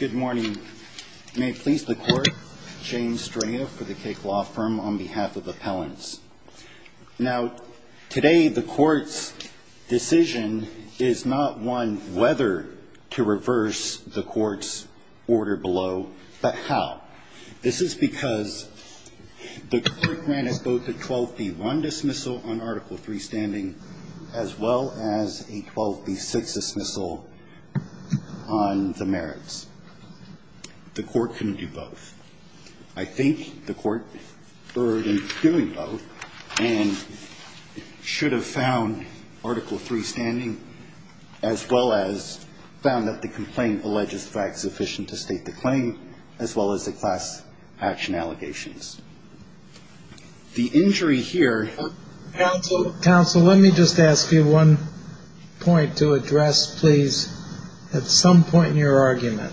Good morning. May it please the Court, James Straya for the CAKE Law Firm on behalf of Appellants. Now, today the Court's decision is not one whether to reverse the Court's order below, but how. This is because the Court granted both a 12b-1 dismissal on Article III standing as well as a 12b-6 dismissal on the merits. The Court couldn't do both. I think the Court erred in doing both and should have found Article III standing as well as found that the complaint The injury here Counsel, let me just ask you one point to address, please, at some point in your argument.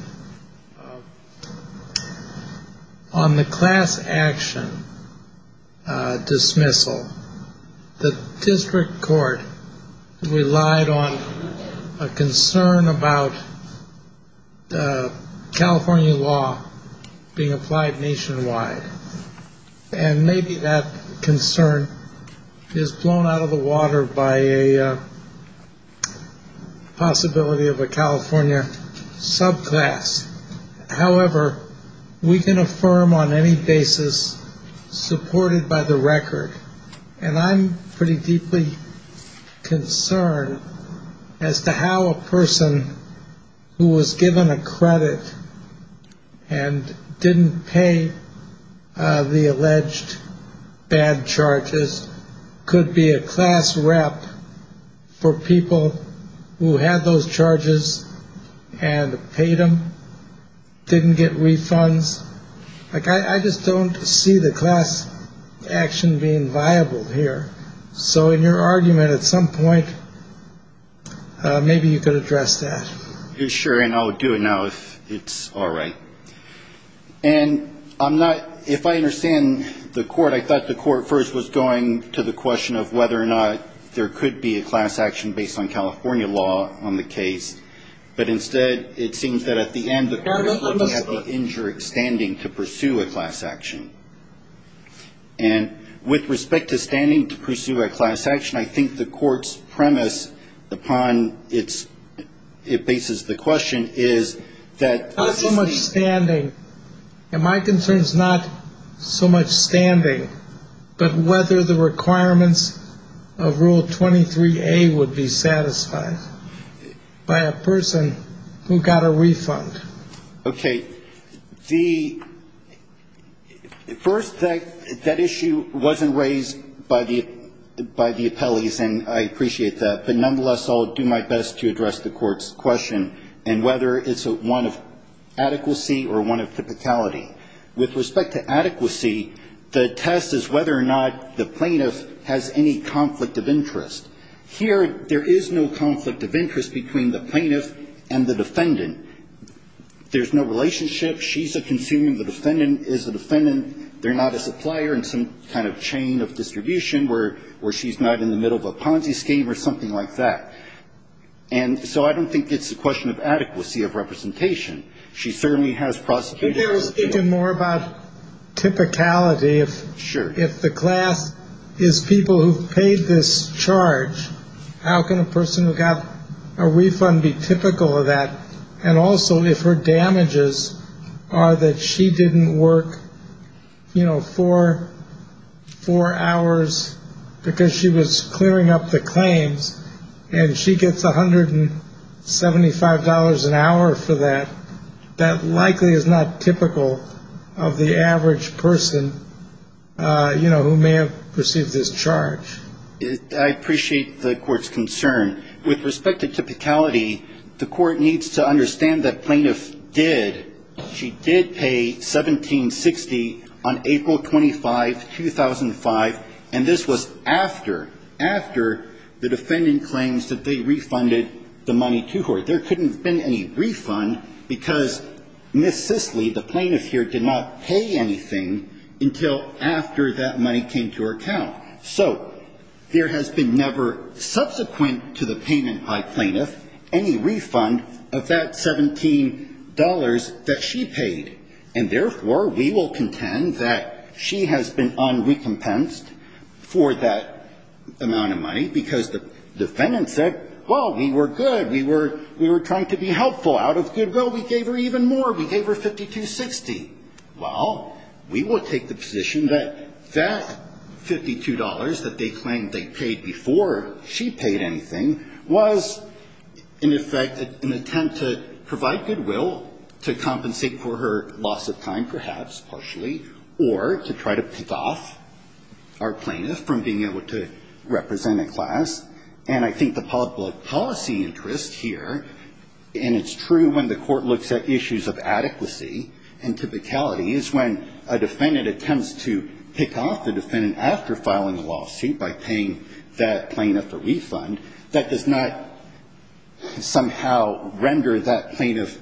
On the class action dismissal, the District Court relied on a concern about California law being applied nationwide. And maybe that concern is blown out of the water by a possibility of a California subclass. However, we can affirm on any basis supported by the record, and I'm pretty deeply concerned as to how a person who was given a credit and didn't pay the alleged bad charges could be a class rep for people who had those charges and paid them, didn't get refunds. I just don't see the class action being viable here. So in your argument, at some point, maybe you could address that. Sure, and I'll do it now if it's all right. And I'm not – if I understand the Court, I thought the Court first was going to the question of whether or not there could be a class action based on California law on the case. But instead, it seems that at the end, the Court had the injured standing to pursue a class action. And with respect to standing to pursue a class action, I think the Court's premise upon its – it bases the question is that – Not so much standing. And my concern is not so much standing, but whether the requirements of Rule 23A would be satisfied by a person who got a refund. Okay. The – first, that issue wasn't raised by the appellees, and I appreciate that. But nonetheless, I'll do my best to address the Court's question and whether it's one of adequacy or one of typicality. With respect to adequacy, the test is whether or not the plaintiff has any conflict of interest. Here, there is no conflict of interest between the plaintiff and the defendant. There's no relationship. She's a consumer. The defendant is a defendant. They're not a supplier in some kind of chain of distribution where she's not in the middle of a Ponzi scheme or something like that. And so I don't think it's a question of adequacy of representation. She certainly has prosecutorial authority. Maybe I was thinking more about typicality. Sure. If the class is people who've paid this charge, how can a person who got a refund be typical of that? And also, if her damages are that she didn't work, you know, four hours because she was clearing up the claims and she gets $175 an hour for that, that likely is not typical of the average person, you know, who may have received this charge. I appreciate the Court's concern. With respect to typicality, the Court needs to understand that plaintiff did. She did pay $1760 on April 25, 2005, and this was after, after the defendant claims that they refunded the money to her. There couldn't have been any refund because Ms. Sisley, the plaintiff here, did not pay anything until after that money came to her account. So there has been never, subsequent to the payment by plaintiff, any refund of that $17 that she paid. And therefore, we will contend that she has been unrecompensed for that amount of money because the defendant said, well, we were good. We were trying to be helpful. Out of goodwill, we gave her even more. We gave her $5260. Well, we will take the position that that $52 that they claimed they paid before she paid anything was, in effect, an attempt to provide goodwill to compensate for her loss of time, perhaps partially, or to try to pick off our plaintiff from being able to represent a class. And I think the public policy interest here, and it's true when the court looks at issues of adequacy and typicality, is when a defendant attempts to pick off the defendant after filing a lawsuit by paying that plaintiff a refund, that does not somehow render that plaintiff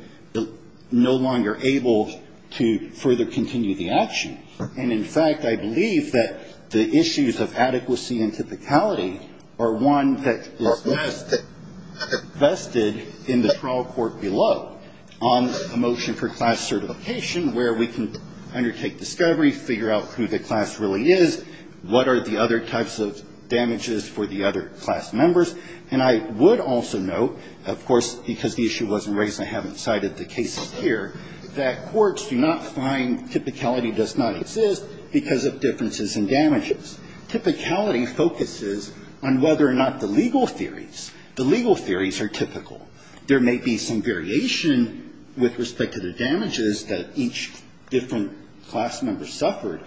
no longer able to further continue the action. And, in fact, I believe that the issues of adequacy and typicality are one that is vested in the trial court below, on the motion for class certification, where we can undertake discovery, figure out who the class really is, what are the other types of damages for the other class members. And I would also note, of course, because the issue wasn't raised and I haven't cited the cases here, that courts do not find typicality does not exist because of differences in damages. Typicality focuses on whether or not the legal theories, the legal theories are typical. There may be some variation with respect to the damages that each different class member suffered,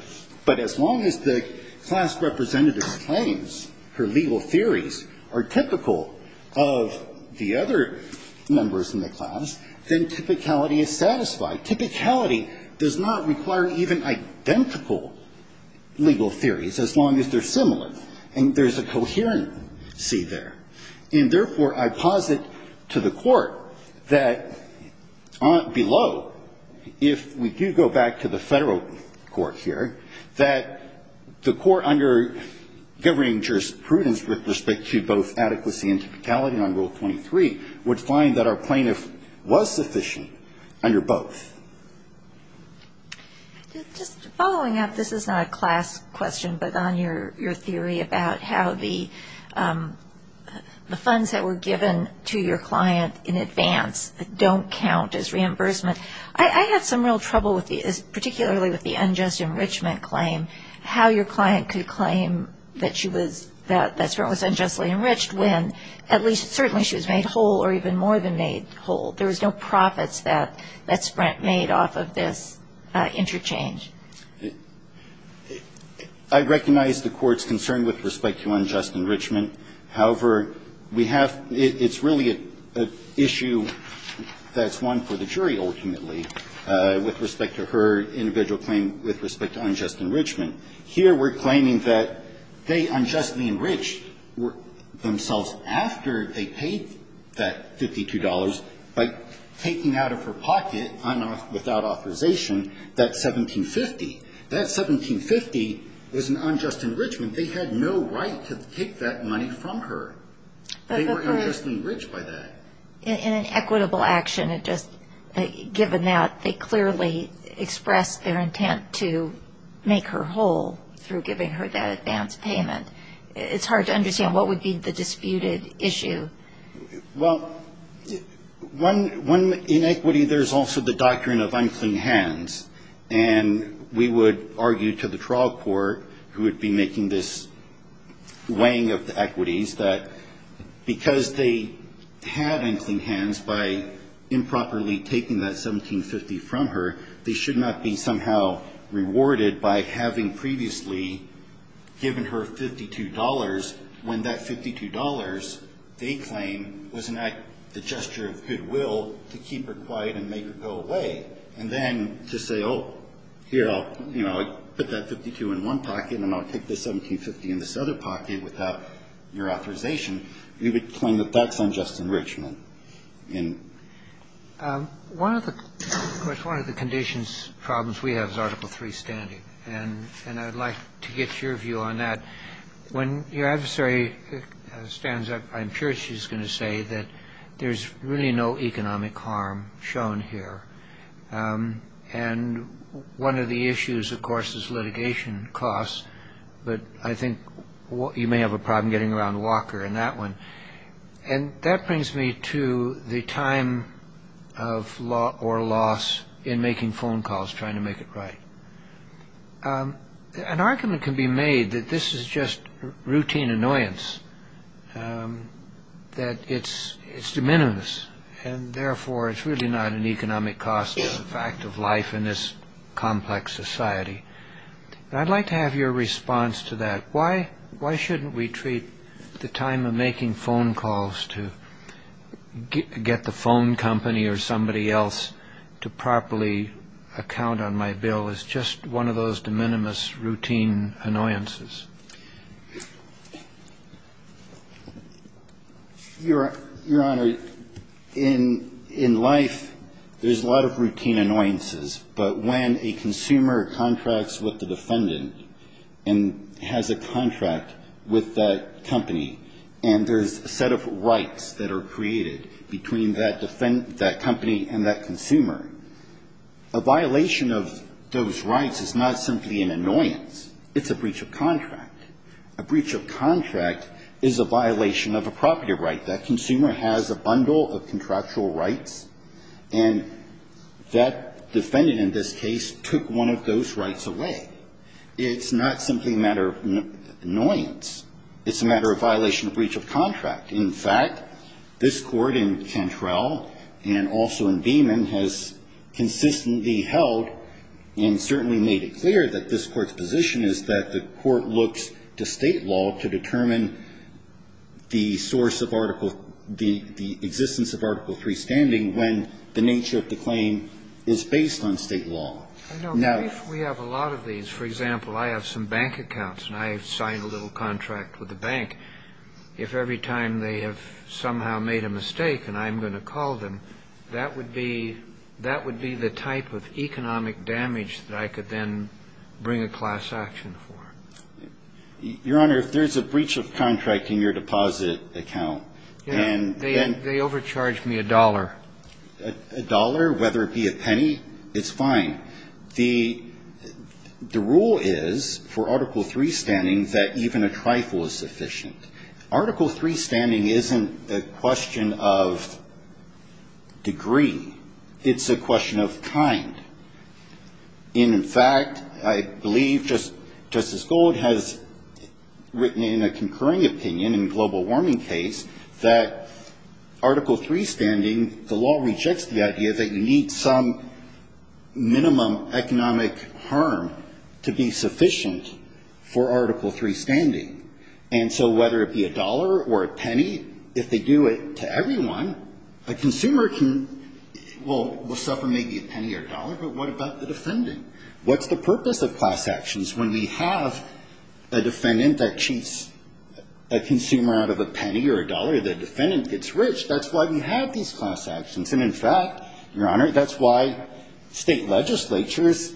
but as long as the class representative's claims, her legal theories, are typical of the other members in the class, then typicality is satisfied. Typicality does not require even identical legal theories, as long as they're similar. And there's a coherency there. And, therefore, I posit to the Court that below, if we do go back to the Federal Court here, that the Court under governing jurisprudence with respect to both adequacy and typicality on Rule 23 would find that our plaintiff was sufficient under both. Just following up, this is not a class question, but on your theory about how the funds that were given to your client in advance don't count as reimbursement. I have some real trouble with the, particularly with the unjust enrichment claim, how your client could claim that she was, that Sprint was unjustly enriched when at least certainly she was made whole or even more than made whole. There was no profits that Sprint made off of this interchange. I recognize the Court's concern with respect to unjust enrichment. However, we have, it's really an issue that's one for the jury, ultimately, with respect to her individual claim with respect to unjust enrichment. Here we're claiming that they unjustly enriched themselves after they paid that $52 by taking out of her pocket, without authorization, that $1,750. That $1,750 was an unjust enrichment. They had no right to take that money from her. They were unjustly enriched by that. In an equitable action, given that, they clearly expressed their intent to make her whole through giving her that advance payment. It's hard to understand what would be the disputed issue. Well, in equity, there's also the doctrine of unclean hands. We would argue to the trial court who would be making this weighing of the equities that because they had unclean hands by improperly taking that $1,750 from her, they should not be somehow rewarded by having previously given her $52 when that $52, they claim, was the gesture of goodwill to keep her quiet and make her go away. And then to say, oh, here, I'll put that $52 in one pocket, and I'll take this $1,750 in this other pocket without your authorization, you would claim that that's unjust enrichment. And one of the conditions, problems we have is Article III standing. And I'd like to get your view on that. When your adversary stands up, I'm sure she's going to say that there's really no economic harm shown here. And one of the issues, of course, is litigation costs, but I think you may have a problem getting around Walker in that one. And that brings me to the time of law or loss in making phone calls trying to make it right. An argument can be made that this is just routine annoyance, that it's de minimis, and therefore it's really not an economic cost to the fact of life in this complex society. And I'd like to have your response to that. Why shouldn't we treat the time of making phone calls to get the phone company or somebody else to properly account on my bill as just one of those de minimis routine annoyances? Your Honor, in life, there's a lot of routine annoyances, but when a consumer contracts with the defendant and has a contract with that company and there's a set of rights that are created between that company and that consumer, a violation of those rights is not simply an annoyance. It's a breach of contract. A breach of contract is a violation of a property right. That consumer has a bundle of contractual rights, and that defendant in this case took one of those rights away. It's not simply a matter of annoyance. It's a matter of violation of breach of contract. In fact, this Court in Cantrell and also in Beamon has consistently held and certainly made it clear that this Court's position is that the Court looks to state law to determine the source of Article the existence of Article III standing when the nature of the claim is based on state law. Now, if we have a lot of these, for example, I have some bank accounts and I have signed a little contract with the bank, if every time they have somehow made a mistake and I'm going to call them, that would be the type of economic damage that I could then bring a class action for. Your Honor, if there's a breach of contract in your deposit account and then they overcharge me a dollar. A dollar, whether it be a penny, it's fine. The rule is for Article III standing that even a trifle is sufficient. Article III standing isn't a question of degree. It's a question of kind. And in fact, I believe Justice Gold has written in a concurring opinion in a global warming case that Article III standing, the law rejects the idea that you need some minimum economic harm to be sufficient for Article III standing. And so whether it be a dollar or a penny, if they do it to everyone, a consumer will suffer maybe a penny or a dollar, but what about the defendant? What's the purpose of class actions? When we have a defendant that cheats a consumer out of a penny or a dollar, the defendant gets rich. That's why we have these class actions. And in fact, Your Honor, that's why state legislatures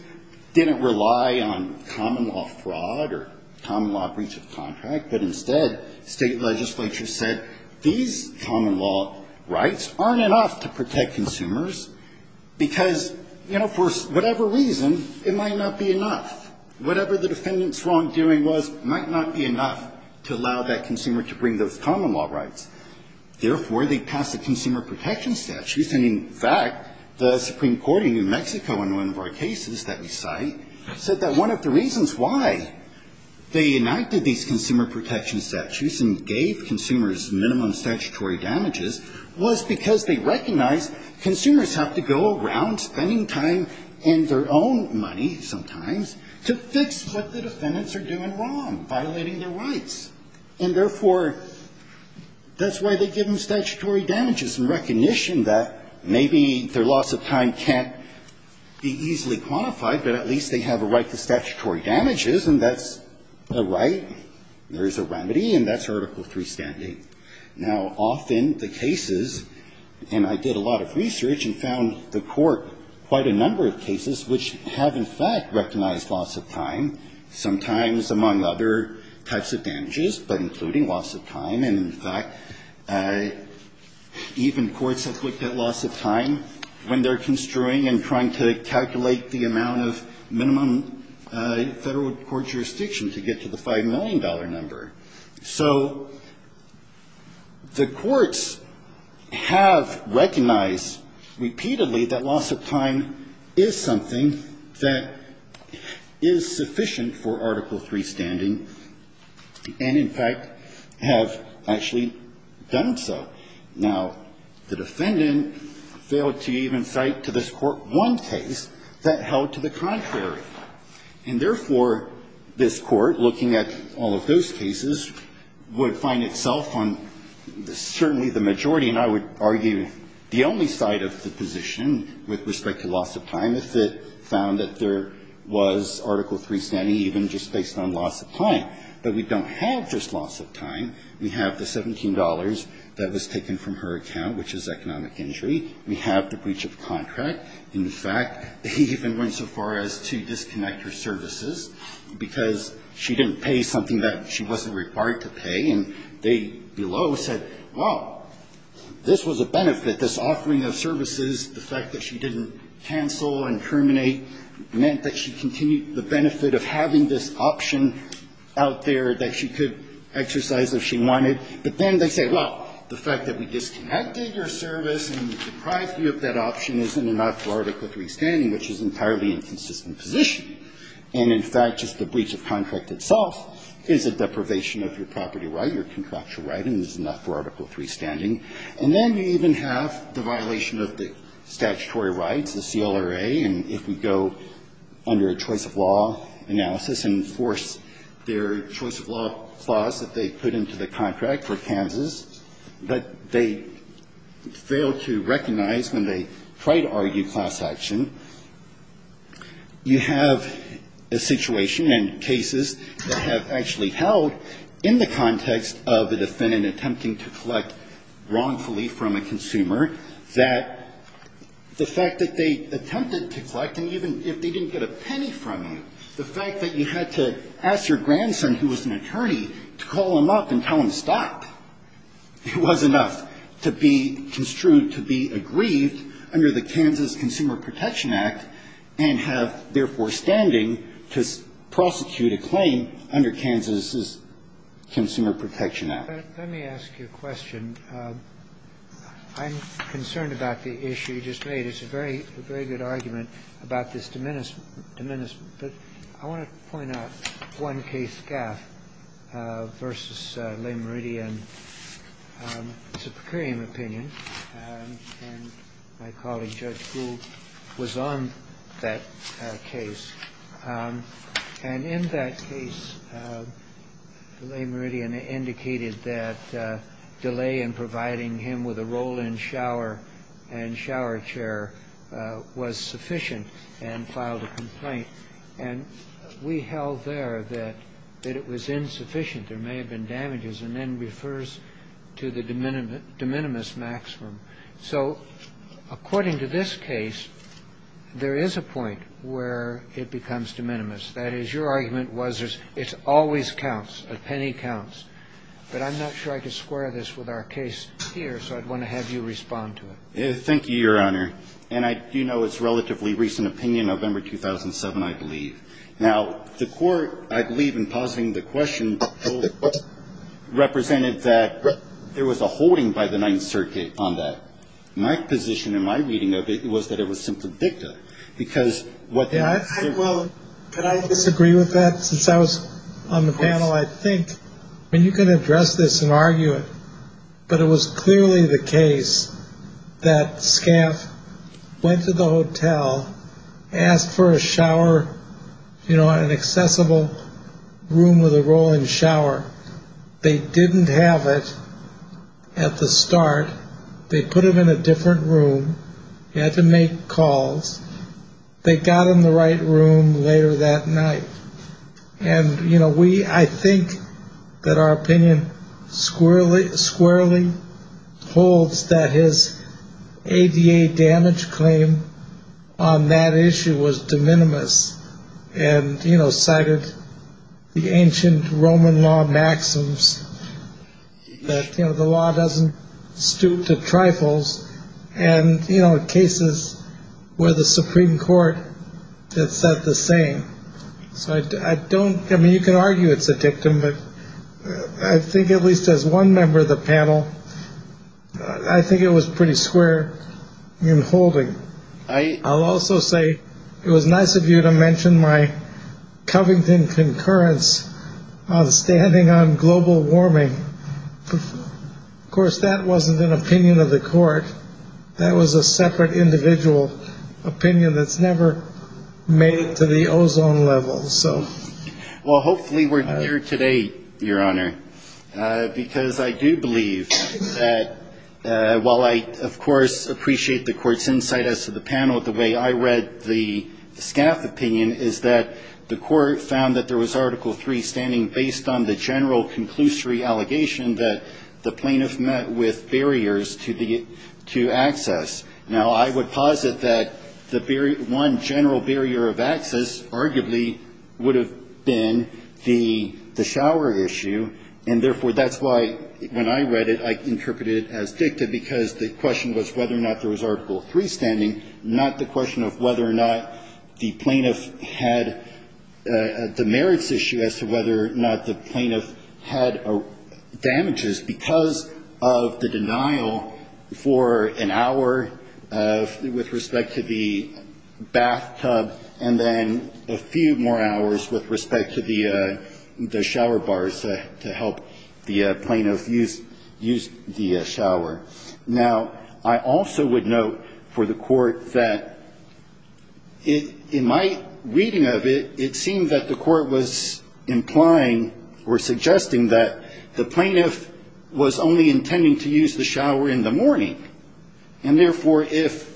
didn't rely on common law fraud or common law breach of contract. But instead, state legislatures said these common law rights aren't enough to protect consumers because, you know, for whatever reason, it might not be enough. Whatever the defendant's wrongdoing was might not be enough to allow that consumer to bring those common law rights. Therefore, they pass a consumer protection statute. And in fact, the Supreme Court in New Mexico in one of our cases that we cite said that one of the reasons why they enacted these consumer protection statutes and gave consumers minimum statutory damages was because they recognized consumers have to go around spending time and their own money sometimes to fix what the defendants are doing wrong, violating their rights. And therefore, that's why they give them statutory damages in recognition that maybe their loss of time can't be easily quantified, but at least they have a right to statutory damages, and that's a right. There is a remedy, and that's Article III standing. Now, often the cases, and I did a lot of research and found the Court quite a number of cases which have in fact recognized loss of time, sometimes among other types of damages, but including loss of time. And in fact, even courts have looked at loss of time when they're construing and trying to calculate the amount of minimum Federal court jurisdiction to get to the $5 million number. So the courts have recognized repeatedly that loss of time is something that is sufficient for Article III standing, and in fact have actually done so. Now, the defendant failed to even cite to this Court one case that held to the contrary. And therefore, this Court, looking at all of those cases, would find itself on certainly the majority, and I would argue the only side of the position with respect to loss of time, if it found that there was Article III standing even just based on loss of time. But we don't have just loss of time. We have the $17 that was taken from her account, which is economic injury. We have the breach of contract, and the fact that he even went so far as to disconnect her services because she didn't pay something that she wasn't required to pay, and they below said, well, this was a benefit, this offering of services, the fact that she didn't cancel and terminate meant that she continued the benefit of having this option out there that she could exercise if she wanted. But then they say, well, the fact that we disconnected your service and we deprived you of that option isn't enough for Article III standing, which is an entirely inconsistent position. And in fact, just the breach of contract itself is a deprivation of your property right, your contractual right, and is not for Article III standing. And then you even have the violation of the statutory rights, the CLRA, and if we go under a choice of law analysis and enforce their choice of law clause that they put into the contract for Kansas that they failed to recognize when they tried to argue class action. You have a situation and cases that have actually held in the context of a defendant attempting to collect wrongfully from a consumer that the fact that they attempted to collect, and even if they didn't get a penny from you, the fact that you had to ask your grandson, who was an attorney, to call him up and tell him to stop, it was enough to be construed to be aggrieved under the Kansas Consumer Protection Act and have, therefore, standing to prosecute a claim under Kansas' Consumer Protection Act. Let me ask you a question. I'm concerned about the issue you just made. It's a very good argument about this diminishment. But I want to point out one case, Gaff, versus Leigh Meridian. It's a precarium opinion, and my colleague, Judge Gould, was on that case. And in that case, Leigh Meridian indicated that delay in providing him with a roll-in and shower chair was sufficient and filed a complaint. And we held there that it was insufficient. There may have been damages. And then refers to the de minimis maximum. So according to this case, there is a point where it becomes de minimis. That is, your argument was it always counts, a penny counts. But I'm not sure I could square this with our case here, so I'd want to have you respond to it. Thank you, Your Honor. And I do know it's a relatively recent opinion, November 2007, I believe. Now, the court, I believe in pausing the question, represented that there was a holding by the Ninth Circuit on that. My position in my reading of it was that it was simply dicta, because what they're saying to you is that it's a Well, could I disagree with that? Since I was on the panel, I think you can address this and argue it. But it was clearly the case that SCAF went to the hotel, asked for a shower, an accessible room with a roll-in shower. They didn't have it at the start. They put it in a different room. You had to make calls. They got in the right room later that night. And, you know, we I think that our opinion squarely, squarely holds that his ADA damage claim on that issue was de minimis. And, you know, cited the ancient Roman law maxims that, you know, the law doesn't stoop to trifles. And, you know, cases where the Supreme Court said the same. So I don't I mean, you can argue it's a dictum. But I think at least as one member of the panel, I think it was pretty square in holding. I also say it was nice of you to mention my Covington concurrence on standing on global warming. Of course, that wasn't an opinion of the court. That was a separate individual opinion that's never made it to the ozone level. So. Well, hopefully we're here today, Your Honor, because I do believe that while I, of course, appreciate the court's insight as to the panel, the way I read the SCAF opinion is that the court found that there was Article 3 standing based on the general conclusory allegation that the plaintiff met with barriers to access. Now, I would posit that the one general barrier of access arguably would have been the shower issue. And therefore, that's why when I read it, I interpreted it as dictum, because the question was whether or not there was Article 3 standing, not the question of whether or not the plaintiff had the merits issue as to whether or not the plaintiff had damages, because of the denial for an hour with respect to the bathtub and then a few more hours with respect to the shower bars to help the plaintiff use the shower. Now, I also would note for the court that in my reading of it, it seemed that the court was implying or suggesting that the plaintiff was only intending to use the shower in the morning, and therefore, if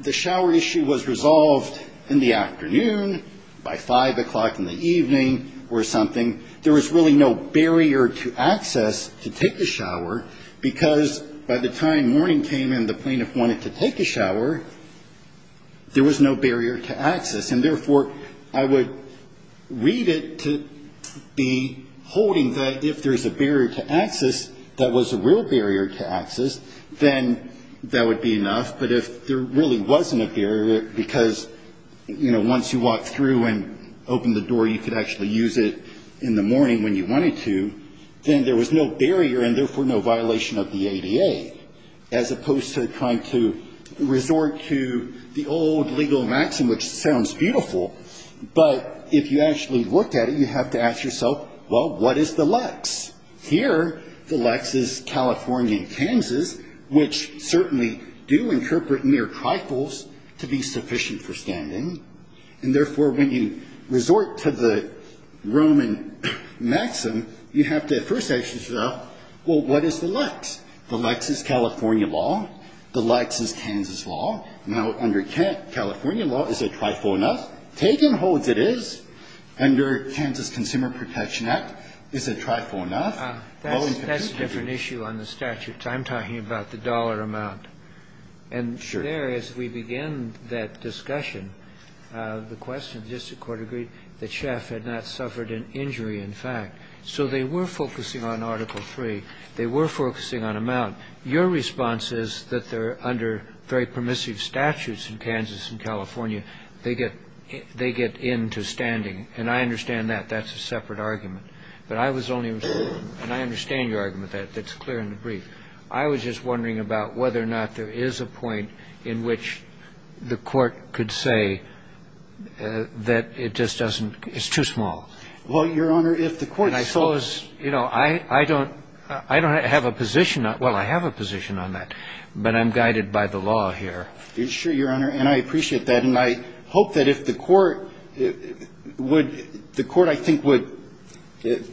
the shower issue was resolved in the afternoon by 5 o'clock in the evening or something, there was really no barrier to access to take a shower, because by the time morning came and the plaintiff wanted to take a shower, there was no barrier to access. And therefore, I would read it to be holding that if there's a barrier to access that was a real barrier to access, then that would be enough. But if there really wasn't a barrier, because, you know, once you walked through and opened the door, you could actually use it, then that would be enough. But if there was no barrier, and therefore, no violation of the ADA, as opposed to trying to resort to the old legal maxim, which sounds beautiful, but if you actually looked at it, you have to ask yourself, well, what is the lex? Here, the lex is California and Kansas, which certainly do interpret mere trifles to be a trifle enough. Take and holds it is. Under Kansas Consumer Protection Act, is it trifle enough? Well, in particular. Kennedy. That's a different issue on the statute. I'm talking about the dollar amount. And there, as we begin that discussion, the question, the district of Kansas, which has suffered an injury, in fact, so they were focusing on Article 3. They were focusing on amount. Your response is that they're under very permissive statutes in Kansas and California. They get they get into standing. And I understand that. That's a separate argument. But I was only and I understand your argument that that's clear in the brief. I was just wondering about whether or not there is a point in which the court could say that it just doesn't it's too small. Well, Your Honor, if the court I suppose, you know, I don't I don't have a position. Well, I have a position on that, but I'm guided by the law here. Sure, Your Honor. And I appreciate that. And I hope that if the court would the court, I think, would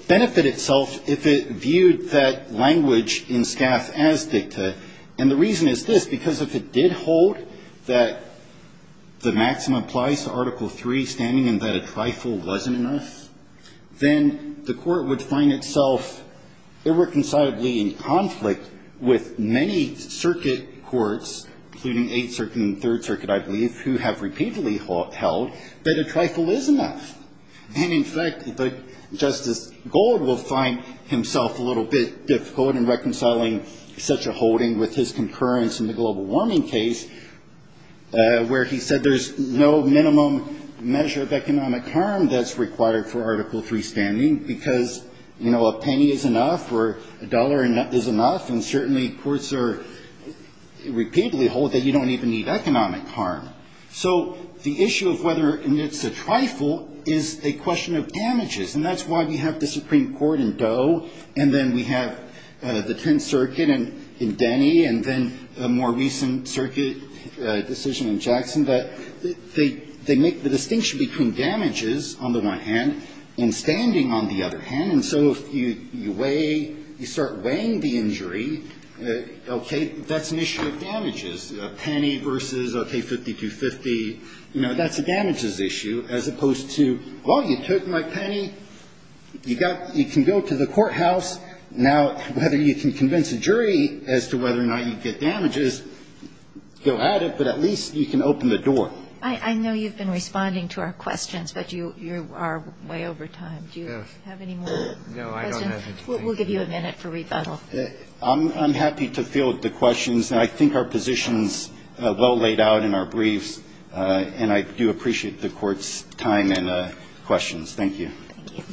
benefit itself if it viewed that language in staff as dicta. And the reason is this, because if it did hold that the maximum applies to Article 3 standing and that a trifle wasn't enough, then the court would find itself irreconcilably in conflict with many circuit courts, including Eighth Circuit and Third Circuit, I believe, who have repeatedly held that a trifle is enough. And in fact, Justice Gold will find himself a little bit difficult in reconciling such a holding with his concurrence in the global warming case where he said there's no minimum measure of economic harm that's required for Article 3 standing because, you know, a penny is enough or a dollar is enough. And certainly courts are repeatedly hold that you don't even need economic harm. So the issue of whether it's a trifle is a question of damages. And that's why we have the Supreme Court in Doe and then we have the Tenth Circuit in Denny and then a more recent circuit decision in Jackson that they make the distinction between damages on the one hand and standing on the other hand. And so if you weigh, you start weighing the injury, okay, that's an issue of damages, a penny versus, okay, $52.50, you know, that's a damages issue, as opposed to, well, you took my penny, you got, you can go to the courthouse, now whether you can convince a jury as to whether or not you get damages, go at it, but at least you can open the door. I know you've been responding to our questions, but you are way over time. Do you have any more questions? No, I don't have anything. We'll give you a minute for rebuttal. I'm happy to field the questions, and I think our position is well laid out in our briefs, and I do appreciate the Court's time and questions. Thank you. Thank you.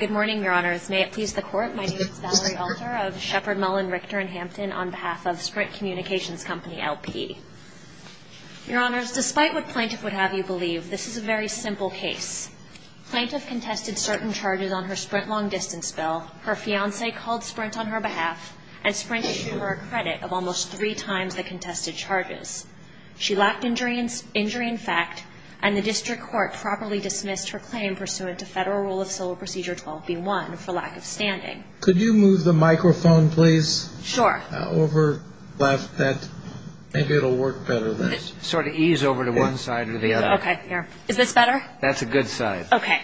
Good morning, Your Honors. May it please the Court, my name is Valerie Alter of Shepard, Mullen, Richter & Hampton on behalf of Sprint Communications Company, LP. Your Honors, despite what plaintiff would have you believe, this is a very simple case. Plaintiff contested certain charges on her Sprint long-distance bill, her fiancé called Sprint on her behalf, and Sprint issued her a credit of almost three times the contested charges. She lacked injury in fact, and the District Court properly dismissed her claim pursuant to Federal Rule of Civil Procedure 12b-1 for lack of standing. Could you move the microphone, please? Sure. Over, left, that, maybe it'll work better. Sort of ease over to one side or the other. Okay, here. Is this better? That's a good side. Okay.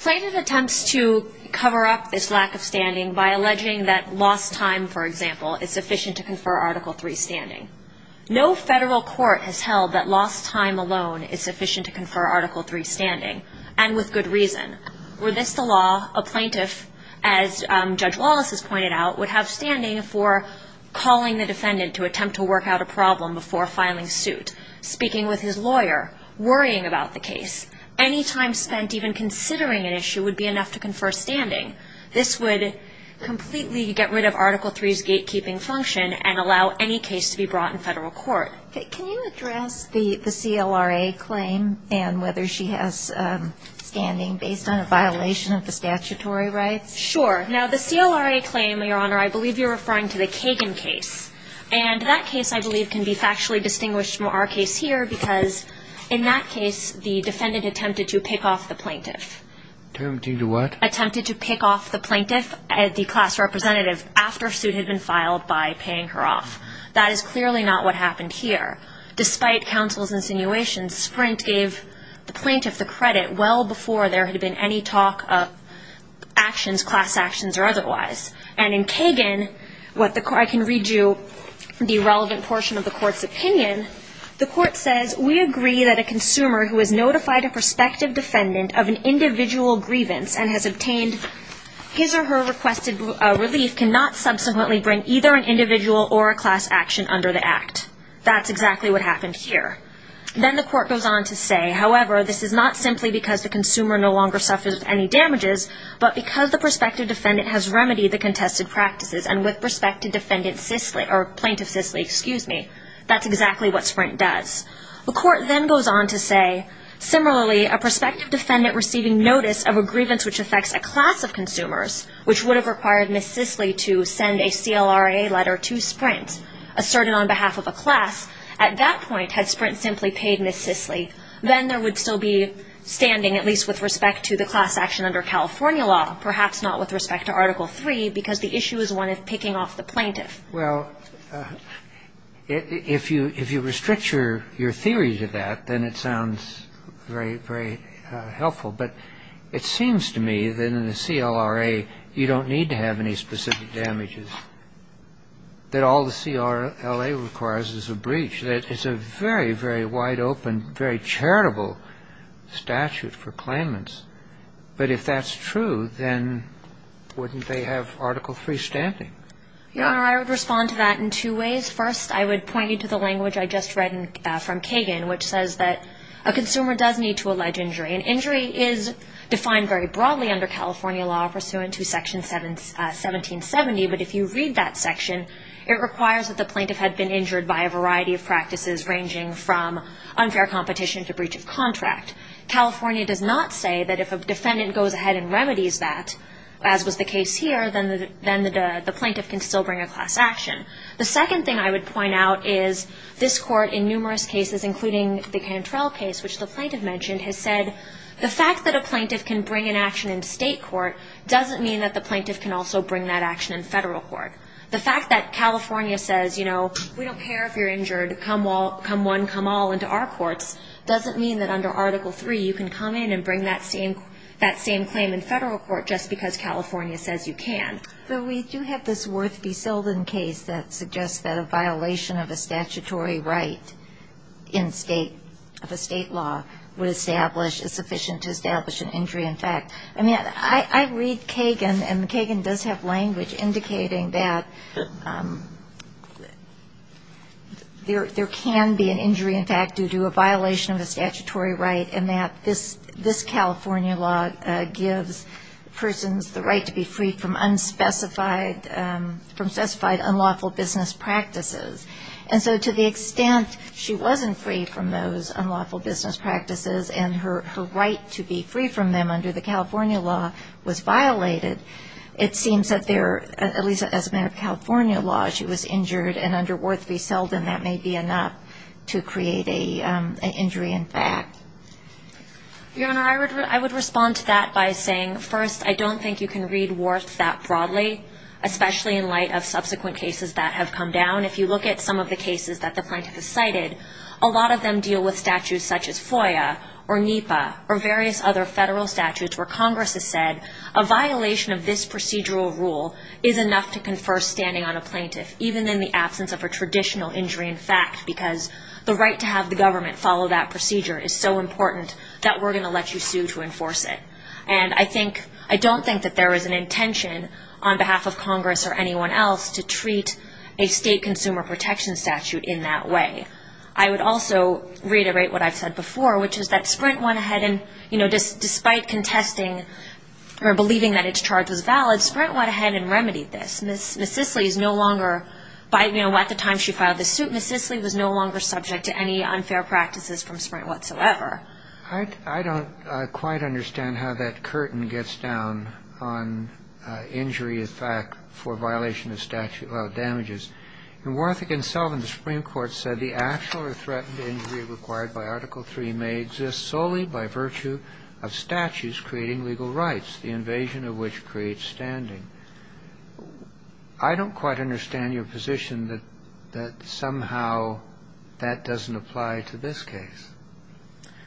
Plaintiff attempts to cover up this lack of standing by alleging that lost time, for example, is sufficient to confer Article III standing. No Federal Court has held that lost time alone is sufficient to confer Article III standing, and with good reason. Were this the law, a plaintiff, as Judge Wallace has pointed out, would have standing for calling the defendant to attempt to work out a problem before filing suit, speaking with his lawyer, worrying about the case. Any time spent even considering an issue would be enough to confer standing. This would completely get rid of Article III's gatekeeping function and allow any case to be brought in Federal Court. Can you address the CLRA claim and whether she has standing based on a violation of the statutory rights? Sure. Now, the CLRA claim, Your Honor, I believe you're referring to the Kagan case. And that case, I believe, can be factually distinguished from our case here because in that case, the defendant attempted to pick off the plaintiff. Attempted to do what? Attempted to pick off the plaintiff, the class representative, after suit had been filed by paying her off. That is clearly not what happened here. Despite counsel's insinuations, Sprint gave the plaintiff the credit well before there had been any talk of actions, class actions or otherwise. And in Kagan, I can read you the relevant portion of the Court's opinion. The Court says, We agree that a consumer who has notified a prospective defendant of an individual grievance and has obtained his or her requested relief cannot subsequently bring either an individual or a class action under the Act. That's exactly what happened here. Then the Court goes on to say, That's exactly what Sprint does. The Court then goes on to say, Similarly, a prospective defendant receiving notice of a grievance which affects a class of consumers, which would have required Ms. Sisley to send a CLRA letter to Sprint, asserted on behalf of a class, at that point had Sprint simply paid Ms. Sisley, then there would still be standing, at least with respect to the class action under California law, perhaps not with respect to Article III because the issue is one of picking off the plaintiff. Well, if you restrict your theory to that, then it sounds very, very helpful. But it seems to me that in the CLRA you don't need to have any specific damages, that all the CLRA requires is a breach. It's a very, very wide open, very charitable statute for claimants. But if that's true, then wouldn't they have Article III standing? Your Honor, I would respond to that in two ways. First, I would point you to the language I just read from Kagan, which says that a consumer does need to allege injury. And injury is defined very broadly under California law pursuant to Section 1770. But if you read that section, it requires that the plaintiff had been injured by a variety of practices ranging from unfair competition to breach of contract. California does not say that if a defendant goes ahead and remedies that, as was the case here, then the plaintiff can still bring a class action. The second thing I would point out is this Court in numerous cases, including the Cantrell case, which the plaintiff mentioned, has said the fact that a plaintiff can bring an action in state court doesn't mean that the plaintiff can also bring that action in federal court. The fact that California says, you know, we don't care if you're injured, come one, come all into our courts, doesn't mean that under Article III you can come in and bring that same claim in federal court just because California says you can. But we do have this Worth v. Seldin case that suggests that a violation of a statutory right in state, of a state law, would establish, is sufficient to establish an injury in fact. I mean, I read Kagan, and Kagan does have language indicating that there can be an injury in fact due to a violation of a statutory right and that this California law gives persons the right to be free from unspecified, from specified unlawful business practices. And so to the extent she wasn't free from those unlawful business practices and her right to be free from them under the California law was violated, it seems that there, at least as a matter of California law, she was injured, and under Worth v. Seldin that may be enough to create an injury in fact. Your Honor, I would respond to that by saying first, I don't think you can read Worth that broadly, especially in light of subsequent cases that have come down. If you look at some of the cases that the plaintiff has cited, a lot of them deal with statutes such as FOIA, or NEPA, or various other federal statutes where Congress has said, a violation of this procedural rule is enough to confer standing on a plaintiff, even in the absence of a traditional injury in fact, because the right to have the government follow that procedure is so important that we're going to let you sue to enforce it. And I think, I don't think that there is an intention on behalf of Congress or anyone else to treat a state consumer protection statute in that way. I would also reiterate what I've said before, which is that Sprint went ahead and, you know, despite contesting or believing that its charge was valid, Sprint went ahead and remedied this. Ms. Sisley is no longer by, you know, at the time she filed the suit, Ms. Sisley was no longer subject to any unfair practices from Sprint whatsoever. I don't quite understand how that curtain gets down on injury in fact for violation of statute of damages. In Worth v. Selvin, the Supreme Court said the actual or threatened injury required by Article III may exist solely by virtue of statutes creating legal rights, the invasion of which creates standing. I don't quite understand your position that somehow that doesn't apply to this case.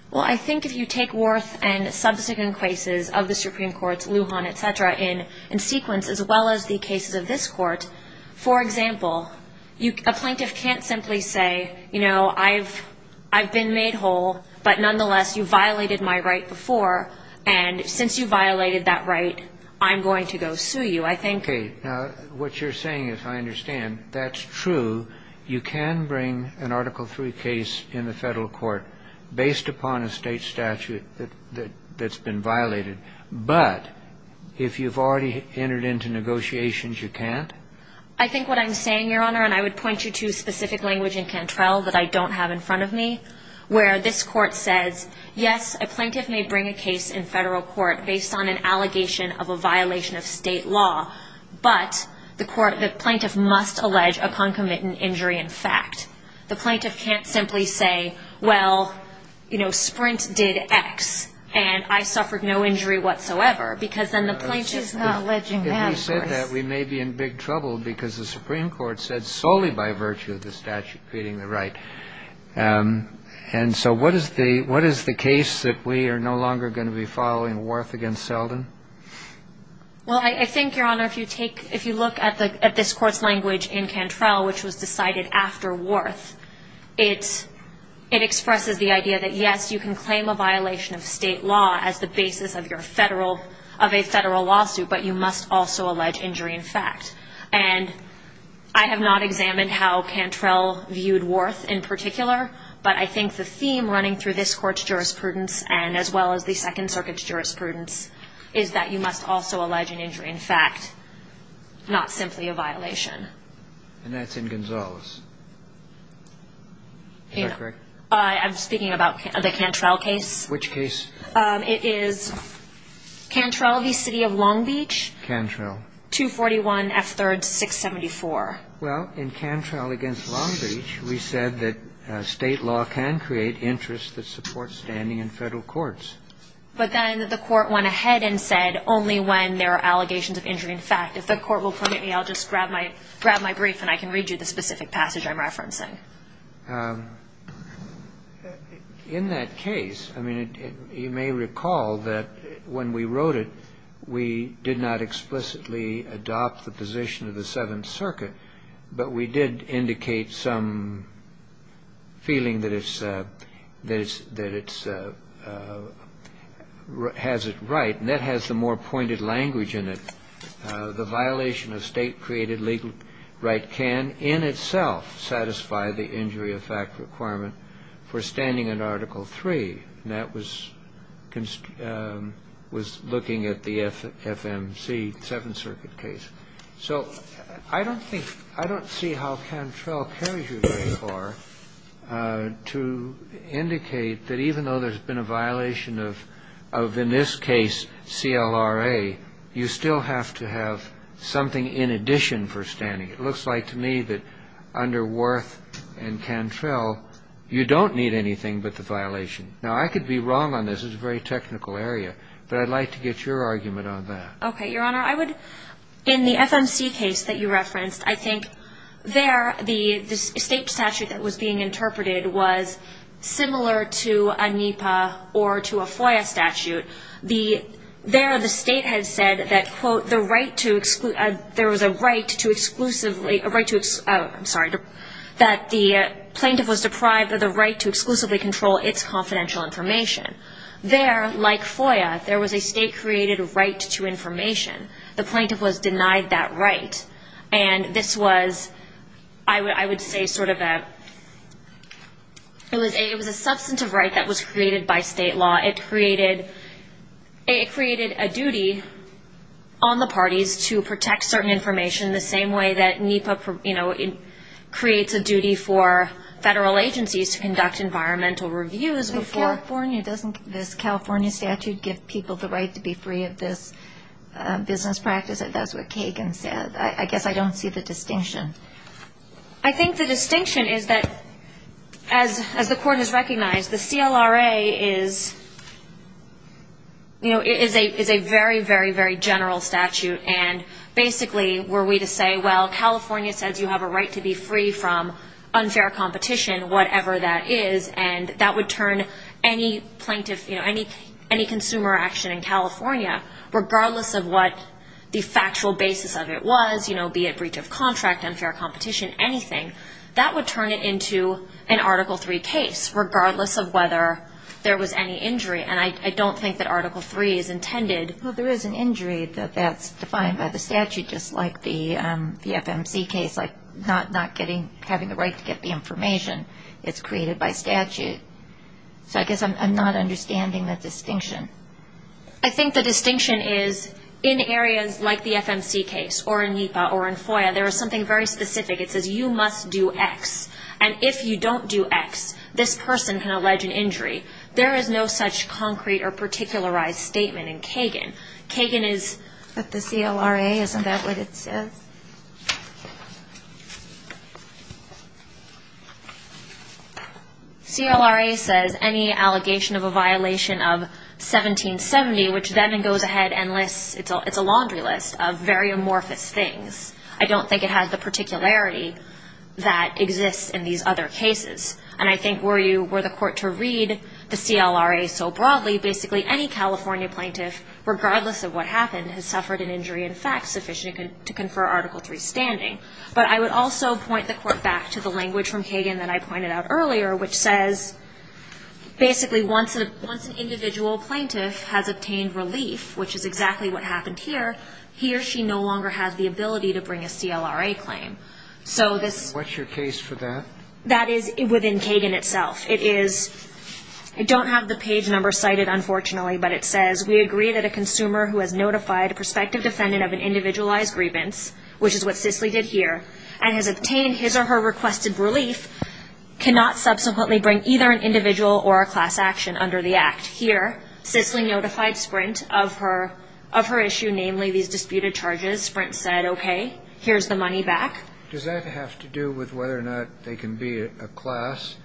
Well, I think if you take Worth and subsequent cases of the Supreme Court's, Lujan, et cetera, in sequence, as well as the cases of this Court, for example, a plaintiff can't simply say, you know, I've been made whole, but nonetheless you violated my right before, and since you violated that right, I'm going to go sue you. I think you can bring an Article III case in the federal court based upon a state statute that's been violated, but if you've already entered into negotiations, you can't. I think what I'm saying, Your Honor, and I would point you to specific language in Cantrell that I don't have in front of me, where this Court says, yes, a plaintiff may bring a case in federal court based on an allegation of a violation of state law, but the plaintiff must allege a concomitant injury in fact. The plaintiff can't simply say, well, you know, Sprint did X, and I suffered no injury whatsoever, because then the plaintiff is not alleging that. If you said that, we may be in big trouble, because the Supreme Court said solely by virtue of the statute creating the right. And so what is the case that we are no longer going to be following, Worth against Selden? Well, I think, Your Honor, if you take — if you look at this Court's language in Cantrell, which was decided after Worth, it expresses the idea that, yes, you can claim a violation of state law as the basis of your federal — of a federal lawsuit, but you must also allege injury in fact. And I have not examined how Cantrell viewed Worth in particular, but I think the theme running through this Court's jurisprudence and as well as the Second Circuit's jurisprudence is that you must also allege an injury in fact, not simply a violation. And that's in Gonzales. Is that correct? I'm speaking about the Cantrell case. Which case? It is Cantrell v. City of Long Beach. Cantrell. 241F3rd674. Well, in Cantrell against Long Beach, we said that state law can create interests that support standing in federal courts. But then the Court went ahead and said only when there are allegations of injury in fact. If the Court will permit me, I'll just grab my — grab my brief and I can read you the specific passage I'm referencing. In that case, I mean, you may recall that when we wrote it, we did not explicitly adopt the position of the Seventh Circuit, but we did indicate some feeling that it's — that it's — has it right. And that has the more pointed language in it. The violation of state-created legal right can, in itself, satisfy the injury of fact requirement for standing under Article III. And that was — was looking at the FMC, Seventh Circuit case. So I don't think — I don't see how Cantrell carries you very far to indicate that even though there's been a violation of, in this case, CLRA, you still have to have something in addition for standing. It looks like to me that under Worth and Cantrell, you don't need anything but the violation. Now, I could be wrong on this. This is a very technical area. But I'd like to get your argument on that. Okay. Your Honor, I would — in the FMC case that you referenced, I think there the state statute that was being interpreted was similar to a NEPA or to a FOIA statute. There the state had said that, quote, the right to — there was a right to exclusively — a right to — I'm sorry, that the plaintiff was deprived of the right to exclusively control its confidential information. There, like FOIA, there was a state-created right to information. The plaintiff was denied that right. And this was, I would say, sort of a — it was a substantive right that was created by state law. It created a duty on the parties to protect certain information the same way that NEPA, you know, creates a duty for federal agencies to conduct environmental reviews before — But California doesn't — this California statute gives people the right to be free of this business practice. That's what Kagan said. I guess I don't see the distinction. I think the distinction is that, as the Court has recognized, the CLRA is, you know, is a very, very, very general statute. And basically, were we to say, well, California says you have a right to be free from unfair competition, whatever that is, and that would turn any plaintiff, you know, any consumer action in California, regardless of what the factual basis of it was, you know, be it breach of contract, unfair competition, anything, that would turn it into an Article III case, regardless of whether there was any injury. And I don't think that Article III is intended — Well, there is an injury that that's defined by the statute, just like the FMC case, like not getting — having the right to get the information. It's created by statute. So I guess I'm not understanding the distinction. I think the distinction is, in areas like the FMC case, or in NEPA, or in FOIA, there is something very specific. It says you must do X. And if you don't do X, this person can allege an injury. There is no such concrete or particularized statement in Kagan. Kagan is — But the CLRA, isn't that what it says? CLRA says any allegation of a violation of 1770, which then goes ahead and lists — it's a laundry list of very amorphous things. I don't think it has the particularity that exists in these other cases. And I think were you — were the court to read the CLRA so broadly, basically any California plaintiff, regardless of what happened, has suffered an injury, in fact, sufficient to confer Article III. But I would also point the court back to the language from Kagan that I pointed out earlier, which says basically once an individual plaintiff has obtained relief, which is exactly what happened here, he or she no longer has the ability to bring a CLRA claim. So this — And what's your case for that? That is within Kagan itself. It is — I don't have the page number cited, unfortunately, but it says, we agree that a consumer who has notified a prospective defendant of an individualized grievance, which is what Sisley did here, and has obtained his or her requested relief, cannot subsequently bring either an individual or a class action under the Act. Here, Sisley notified Sprint of her issue, namely these disputed charges. Sprint said, okay, here's the money back. Does that have to do with whether or not they can be a class,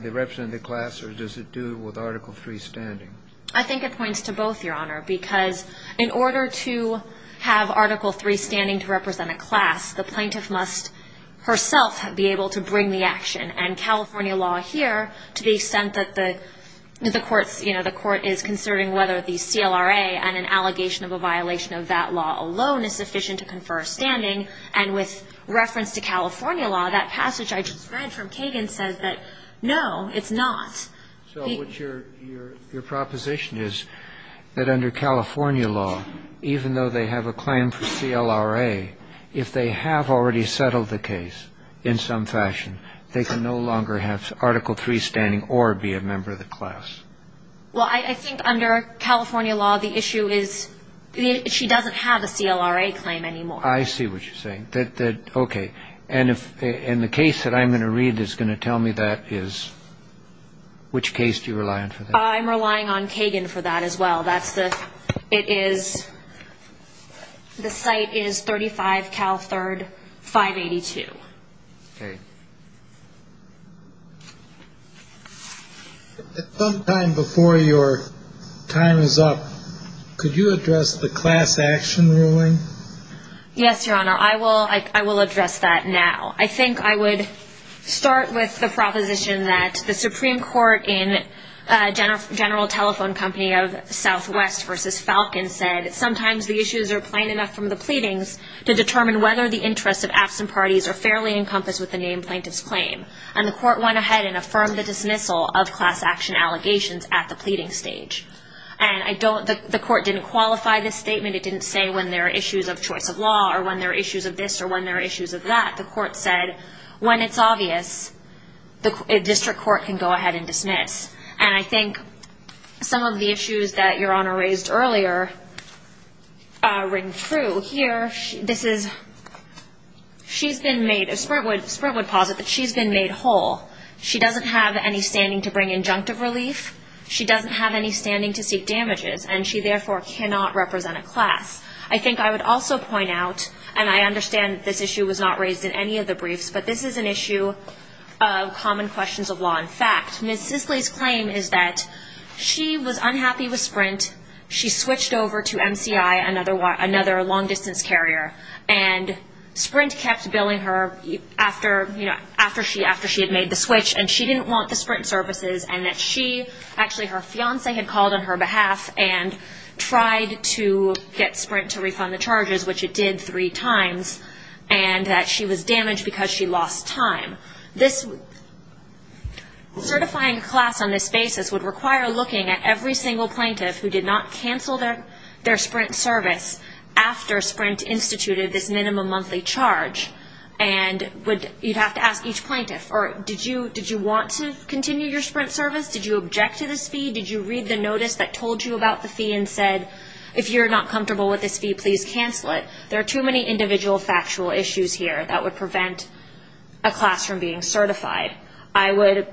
they represent a class, or does it do with Article III standing? I think it points to both, Your Honor, because in order to have Article III standing to represent a class, the plaintiff must herself be able to bring the action. And California law here, to the extent that the court's — you know, the court is considering whether the CLRA and an allegation of a violation of that law alone is sufficient to confer a standing, and with reference to California law, that passage I just read from Kagan says that, no, it's not. So what's your proposition is that under California law, even though they have a claim for CLRA, if they have already settled the case in some fashion, they can no longer have Article III standing or be a member of the class? Well, I think under California law, the issue is she doesn't have a CLRA claim anymore. I see what you're saying. Okay. And the case that I'm going to read is going to tell me that is — which case do you rely on for that? I'm relying on Kagan for that as well. That's the — it is — the site is 35 Cal III 582. Okay. At some time before your time is up, could you address the class action ruling? Yes, Your Honor. I will address that now. I think I would start with the proposition that the Supreme Court in General Telephone Company of Southwest v. Falcon said, sometimes the issues are plain enough from the pleadings to determine whether the interests of absent parties are fairly encompassed with the name plaintiff's claim. And the court went ahead and affirmed the dismissal of class action allegations at the pleading stage. And I don't — the court didn't qualify this statement. It didn't say when there are issues of choice of law or when there are issues of this or when there are issues of that. The court said, when it's obvious, the district court can go ahead and dismiss. And I think some of the issues that Your Honor raised earlier ring true. Here, this is — she's been made — Sprint would posit that she's been made whole. She doesn't have any standing to bring injunctive relief. She doesn't have any standing to seek damages. And she, therefore, cannot represent a class. I think I would also point out, and I understand that this issue was not raised in any of the briefs, but this is an issue of common questions of law and fact. Ms. Sisley's claim is that she was unhappy with Sprint. She switched over to MCI, another long-distance carrier. And Sprint kept billing her after she had made the switch. And she didn't want the Sprint services. Actually, her fiancé had called on her behalf and tried to get Sprint to refund the charges, which it did three times, and that she was damaged because she lost time. Certifying a class on this basis would require looking at every single plaintiff who did not cancel their Sprint service after Sprint instituted this minimum monthly charge. And you'd have to ask each plaintiff, did you want to continue your Sprint service? Did you object to this fee? Did you read the notice that told you about the fee and said, if you're not comfortable with this fee, please cancel it? There are too many individual factual issues here that would prevent a class from being certified. I would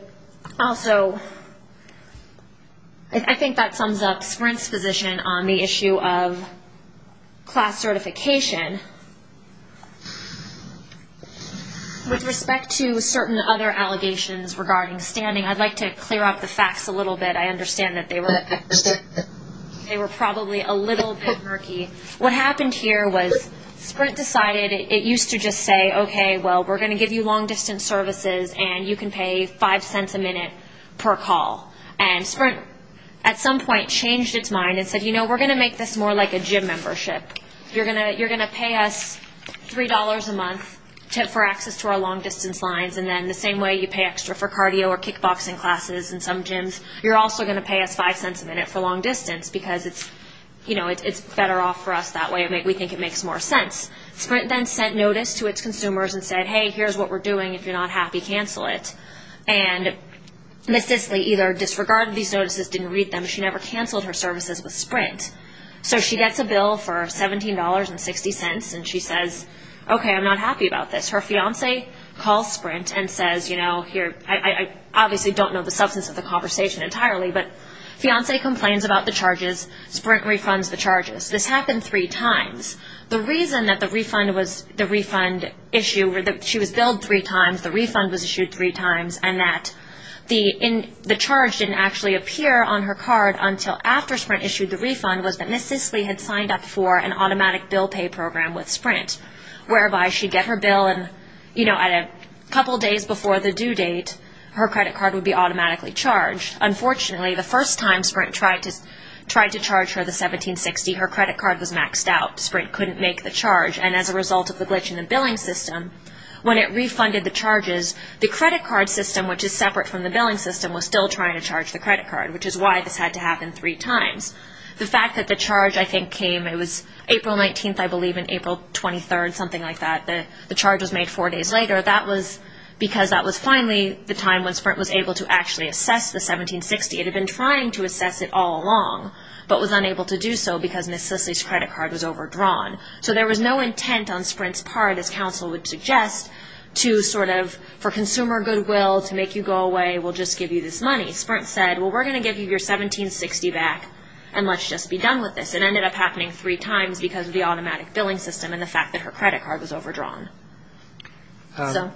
also, I think that sums up Sprint's position on the issue of class certification. With respect to certain other allegations regarding standing, I'd like to clear up the facts a little bit. I understand that they were probably a little bit murky. What happened here was Sprint decided it used to just say, okay, well, we're going to give you long-distance services and you can pay $0.05 a minute per call. And Sprint at some point changed its mind and said, you know, we're going to make this more like a gym membership. You're going to pay us $3 a month for access to our long-distance lines, and then the same way you pay extra for cardio or kickboxing classes in some gyms, you're also going to pay us $0.05 a minute for long-distance because it's better off for us that way. We think it makes more sense. Sprint then sent notice to its consumers and said, hey, here's what we're doing. If you're not happy, cancel it. And Ms. Disley either disregarded these notices, didn't read them. She never canceled her services with Sprint. So she gets a bill for $17.60, and she says, okay, I'm not happy about this. Her fiancé calls Sprint and says, you know, here, I obviously don't know the substance of the conversation entirely, but fiancé complains about the charges. Sprint refunds the charges. This happened three times. The reason that the refund issue, she was billed three times, the refund was issued three times, and that the charge didn't actually appear on her card until after Sprint issued the refund was that Ms. Disley had signed up for an automatic bill pay program with Sprint, whereby she'd get her bill and, you know, at a couple days before the due date her credit card would be automatically charged. Unfortunately, the first time Sprint tried to charge her the $17.60, her credit card was maxed out. Sprint couldn't make the charge, and as a result of the glitch in the billing system, when it refunded the charges, the credit card system, which is separate from the billing system, was still trying to charge the credit card, which is why this had to happen three times. The fact that the charge, I think, came, it was April 19th, I believe, and April 23rd, something like that, the charge was made four days later, that was because that was finally the time when Sprint was able to actually assess the $17.60. It had been trying to assess it all along, but was unable to do so because Ms. Disley's credit card was overdrawn. So there was no intent on Sprint's part, as counsel would suggest, to sort of for consumer goodwill to make you go away, we'll just give you this money. Sprint said, well, we're going to give you your $17.60 back and let's just be done with this. It ended up happening three times because of the automatic billing system and the fact that her credit card was overdrawn. So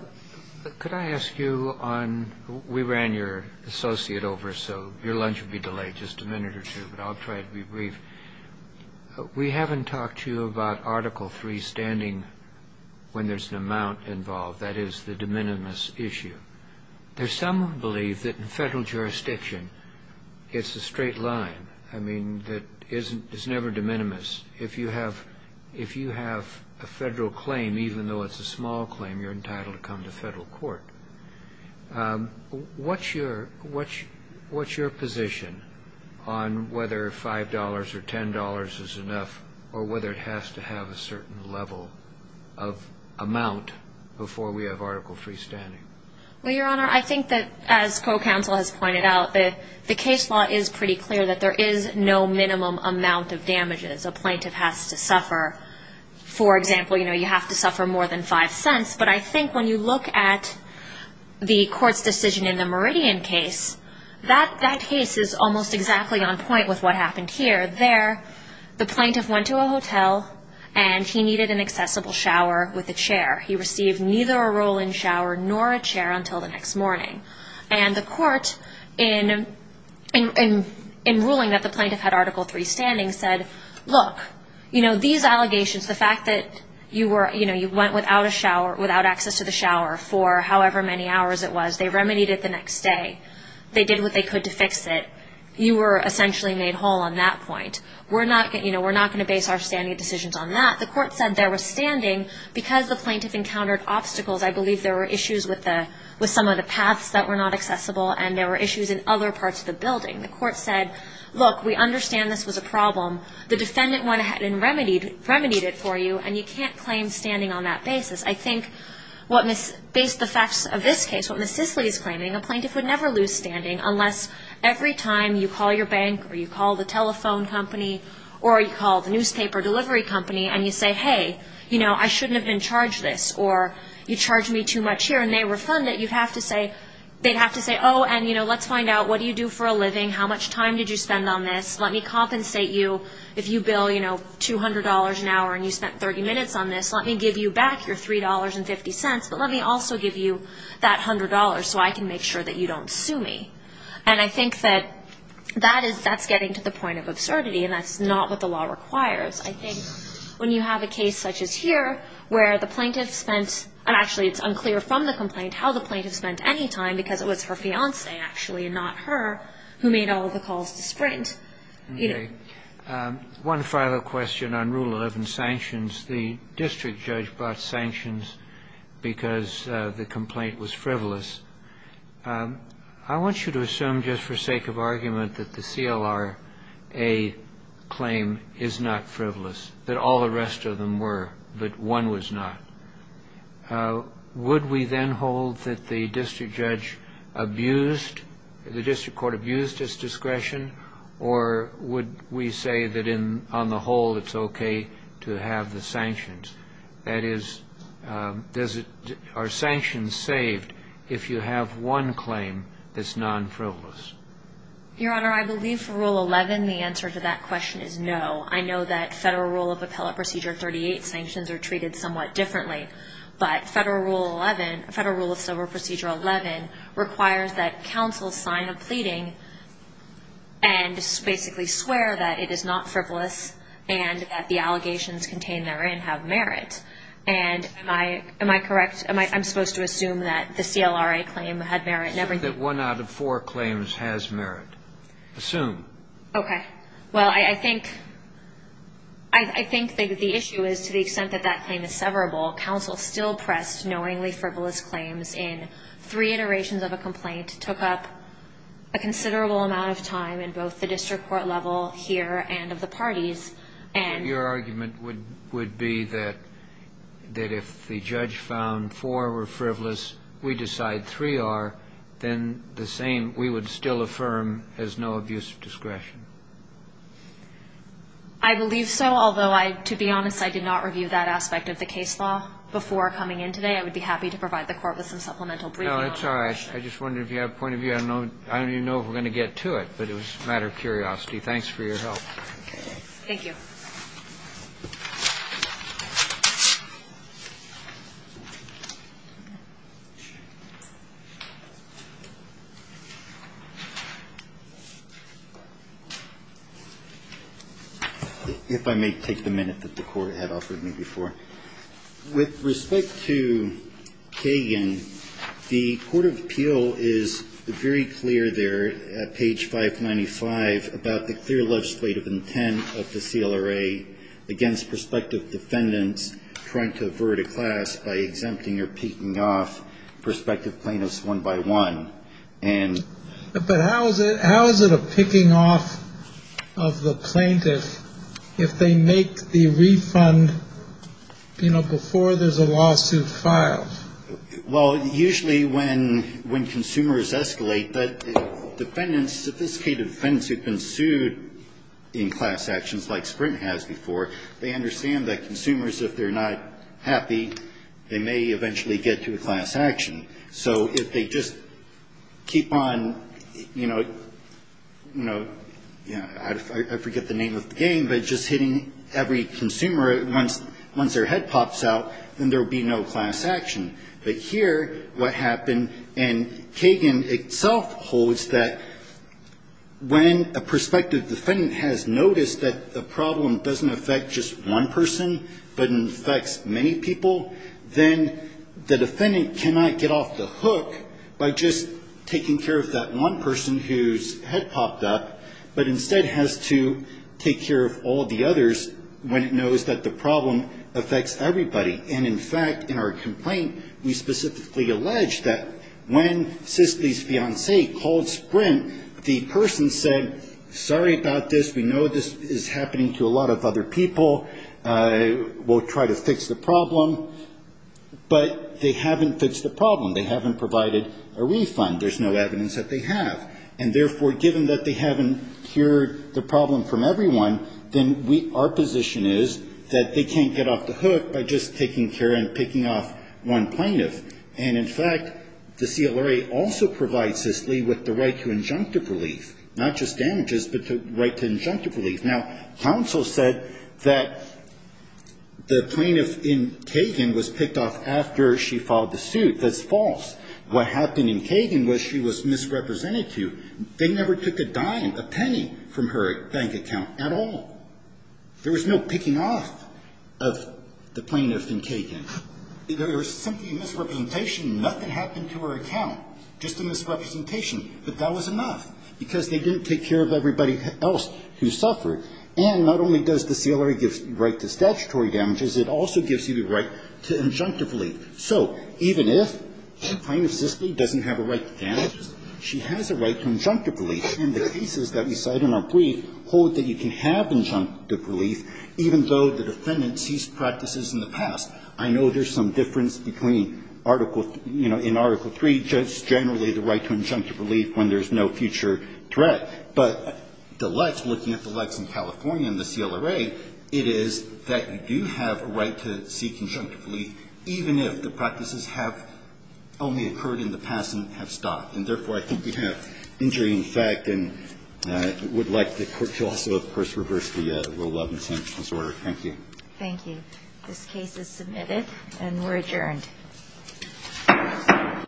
could I ask you on, we ran your associate over, so your lunch will be delayed just a minute or two, but I'll try to be brief. We haven't talked to you about Article III standing when there's an amount involved, that is the de minimis issue. There's some who believe that in federal jurisdiction, it's a straight line. I mean, it's never de minimis. If you have a federal claim, even though it's a small claim, you're entitled to come to federal court. What's your position on whether $5 or $10 is enough or whether it has to have a certain level of amount before we have Article III standing? Well, Your Honor, I think that, as co-counsel has pointed out, the case law is pretty clear that there is no minimum amount of damages a plaintiff has to suffer. For example, you have to suffer more than $0.05, but I think when you look at the court's decision in the Meridian case, that case is almost exactly on point with what happened here. There, the plaintiff went to a hotel and he needed an accessible shower with a chair. He received neither a roll-in shower nor a chair until the next morning. And the court, in ruling that the plaintiff had Article III standing, said, look, these allegations, the fact that you went without access to the shower for however many hours it was, they remedied it the next day. They did what they could to fix it. You were essentially made whole on that point. We're not going to base our standing decisions on that. The court said there was standing because the plaintiff encountered obstacles. I believe there were issues with some of the paths that were not accessible and there were issues in other parts of the building. The court said, look, we understand this was a problem. The defendant went ahead and remedied it for you, and you can't claim standing on that basis. I think based on the facts of this case, what Ms. Sisley is claiming, a plaintiff would never lose standing unless every time you call your bank or you call the telephone company or you call the newspaper delivery company and you say, hey, you know, I shouldn't have been charged this, or you charged me too much here, and they refund it, you'd have to say, they'd have to say, oh, and, you know, let's find out what do you do for a living, how much time did you spend on this, let me compensate you. If you bill, you know, $200 an hour and you spent 30 minutes on this, let me give you back your $3.50, but let me also give you that $100 so I can make sure that you don't sue me. And I think that that's getting to the point of absurdity, and that's not what the law requires. I think when you have a case such as here where the plaintiff spent, and actually it's unclear from the complaint how the plaintiff spent any time because it was her fiancé actually and not her who made all the calls to Sprint, you know. One final question on Rule 11 sanctions. The district judge brought sanctions because the complaint was frivolous. I want you to assume just for sake of argument that the CLRA claim is not frivolous, that all the rest of them were, but one was not. Would we then hold that the district judge abused, the district court abused its discretion, or would we say that on the whole it's okay to have the sanctions? That is, are sanctions saved if you have one claim that's non-frivolous? Your Honor, I believe for Rule 11 the answer to that question is no. I know that Federal Rule of Appellate Procedure 38 sanctions are treated somewhat differently, but Federal Rule 11, Federal Rule of Civil Procedure 11 requires that counsel sign a pleading and basically swear that it is not frivolous and that the allegations contained therein have merit. And am I correct? I'm supposed to assume that the CLRA claim had merit in everything? Assume that one out of four claims has merit. Assume. Okay. Well, I think the issue is to the extent that that claim is severable, counsel still pressed knowingly frivolous claims in three iterations of a complaint, took up a considerable amount of time in both the district court level here and of the parties. Your argument would be that if the judge found four were frivolous, we decide three are, then the same we would still affirm as no abuse of discretion? I believe so, although to be honest, I did not review that aspect of the case law before coming in today. I would be happy to provide the Court with some supplemental briefing on that. No, it's all right. I just wondered if you have a point of view. I don't even know if we're going to get to it, but it was a matter of curiosity. Thanks for your help. Thank you. If I may take the minute that the Court had offered me before. With respect to Kagan, the Court of Appeal is very clear there at page 595 about the clear legislative intent of the CLRA against prospective defendants trying to avert a class by exempting or picking off prospective plaintiffs one by one. But how is it a picking off of the plaintiff if they make the refund, you know, before there's a lawsuit filed? Well, usually when consumers escalate, the sophisticated defendants who have been sued in class actions like Sprint has before, they understand that consumers, if they're not happy, they may eventually get to a class action. So if they just keep on, you know, I forget the name of the game, but just hitting every consumer once their head pops out, then there will be no class action. But here, what happened, and Kagan itself holds that when a prospective defendant has noticed that the problem doesn't affect just one person but affects many people, then the defendant cannot get off the hook by just taking care of that one person whose head popped up, but instead has to take care of all the others when it knows that the problem affects everybody. And in fact, in our complaint, we specifically allege that when Sisley's fiancé called Sprint, the person said, sorry about this, we know this is happening to a lot of other people, we'll try to fix the problem, but they haven't fixed the problem. They haven't provided a refund. There's no evidence that they have. And therefore, given that they haven't cured the problem from everyone, then our position is that they can't get off the hook by just taking care and picking off one plaintiff. And in fact, the CLRA also provides Sisley with the right to injunctive relief, not just damages, but the right to injunctive relief. Now, counsel said that the plaintiff in Kagan was picked off after she filed the suit. That's false. What happened in Kagan was she was misrepresented to. They never took a dime, a penny from her bank account at all. There was no picking off of the plaintiff in Kagan. There was simply a misrepresentation. Nothing happened to her account. Just a misrepresentation. But that was enough, because they didn't take care of everybody else who suffered. And not only does the CLRA give the right to statutory damages, it also gives you the right to injunctive relief. So even if plaintiff Sisley doesn't have a right to damages, she has a right to injunctive relief. And the cases that we cite in our brief hold that you can have injunctive relief even though the defendant ceased practices in the past. I know there's some difference between Article, you know, in Article III, just generally the right to injunctive relief when there's no future threat. But the likes, looking at the likes in California and the CLRA, it is that you do have a right to seek injunctive relief even if the practices have only occurred in the past and have stopped. And therefore, I think we have injury in effect and would like the Court to also, of course, reverse the rule of intentional disorder. Thank you. Thank you. This case is submitted and we're adjourned.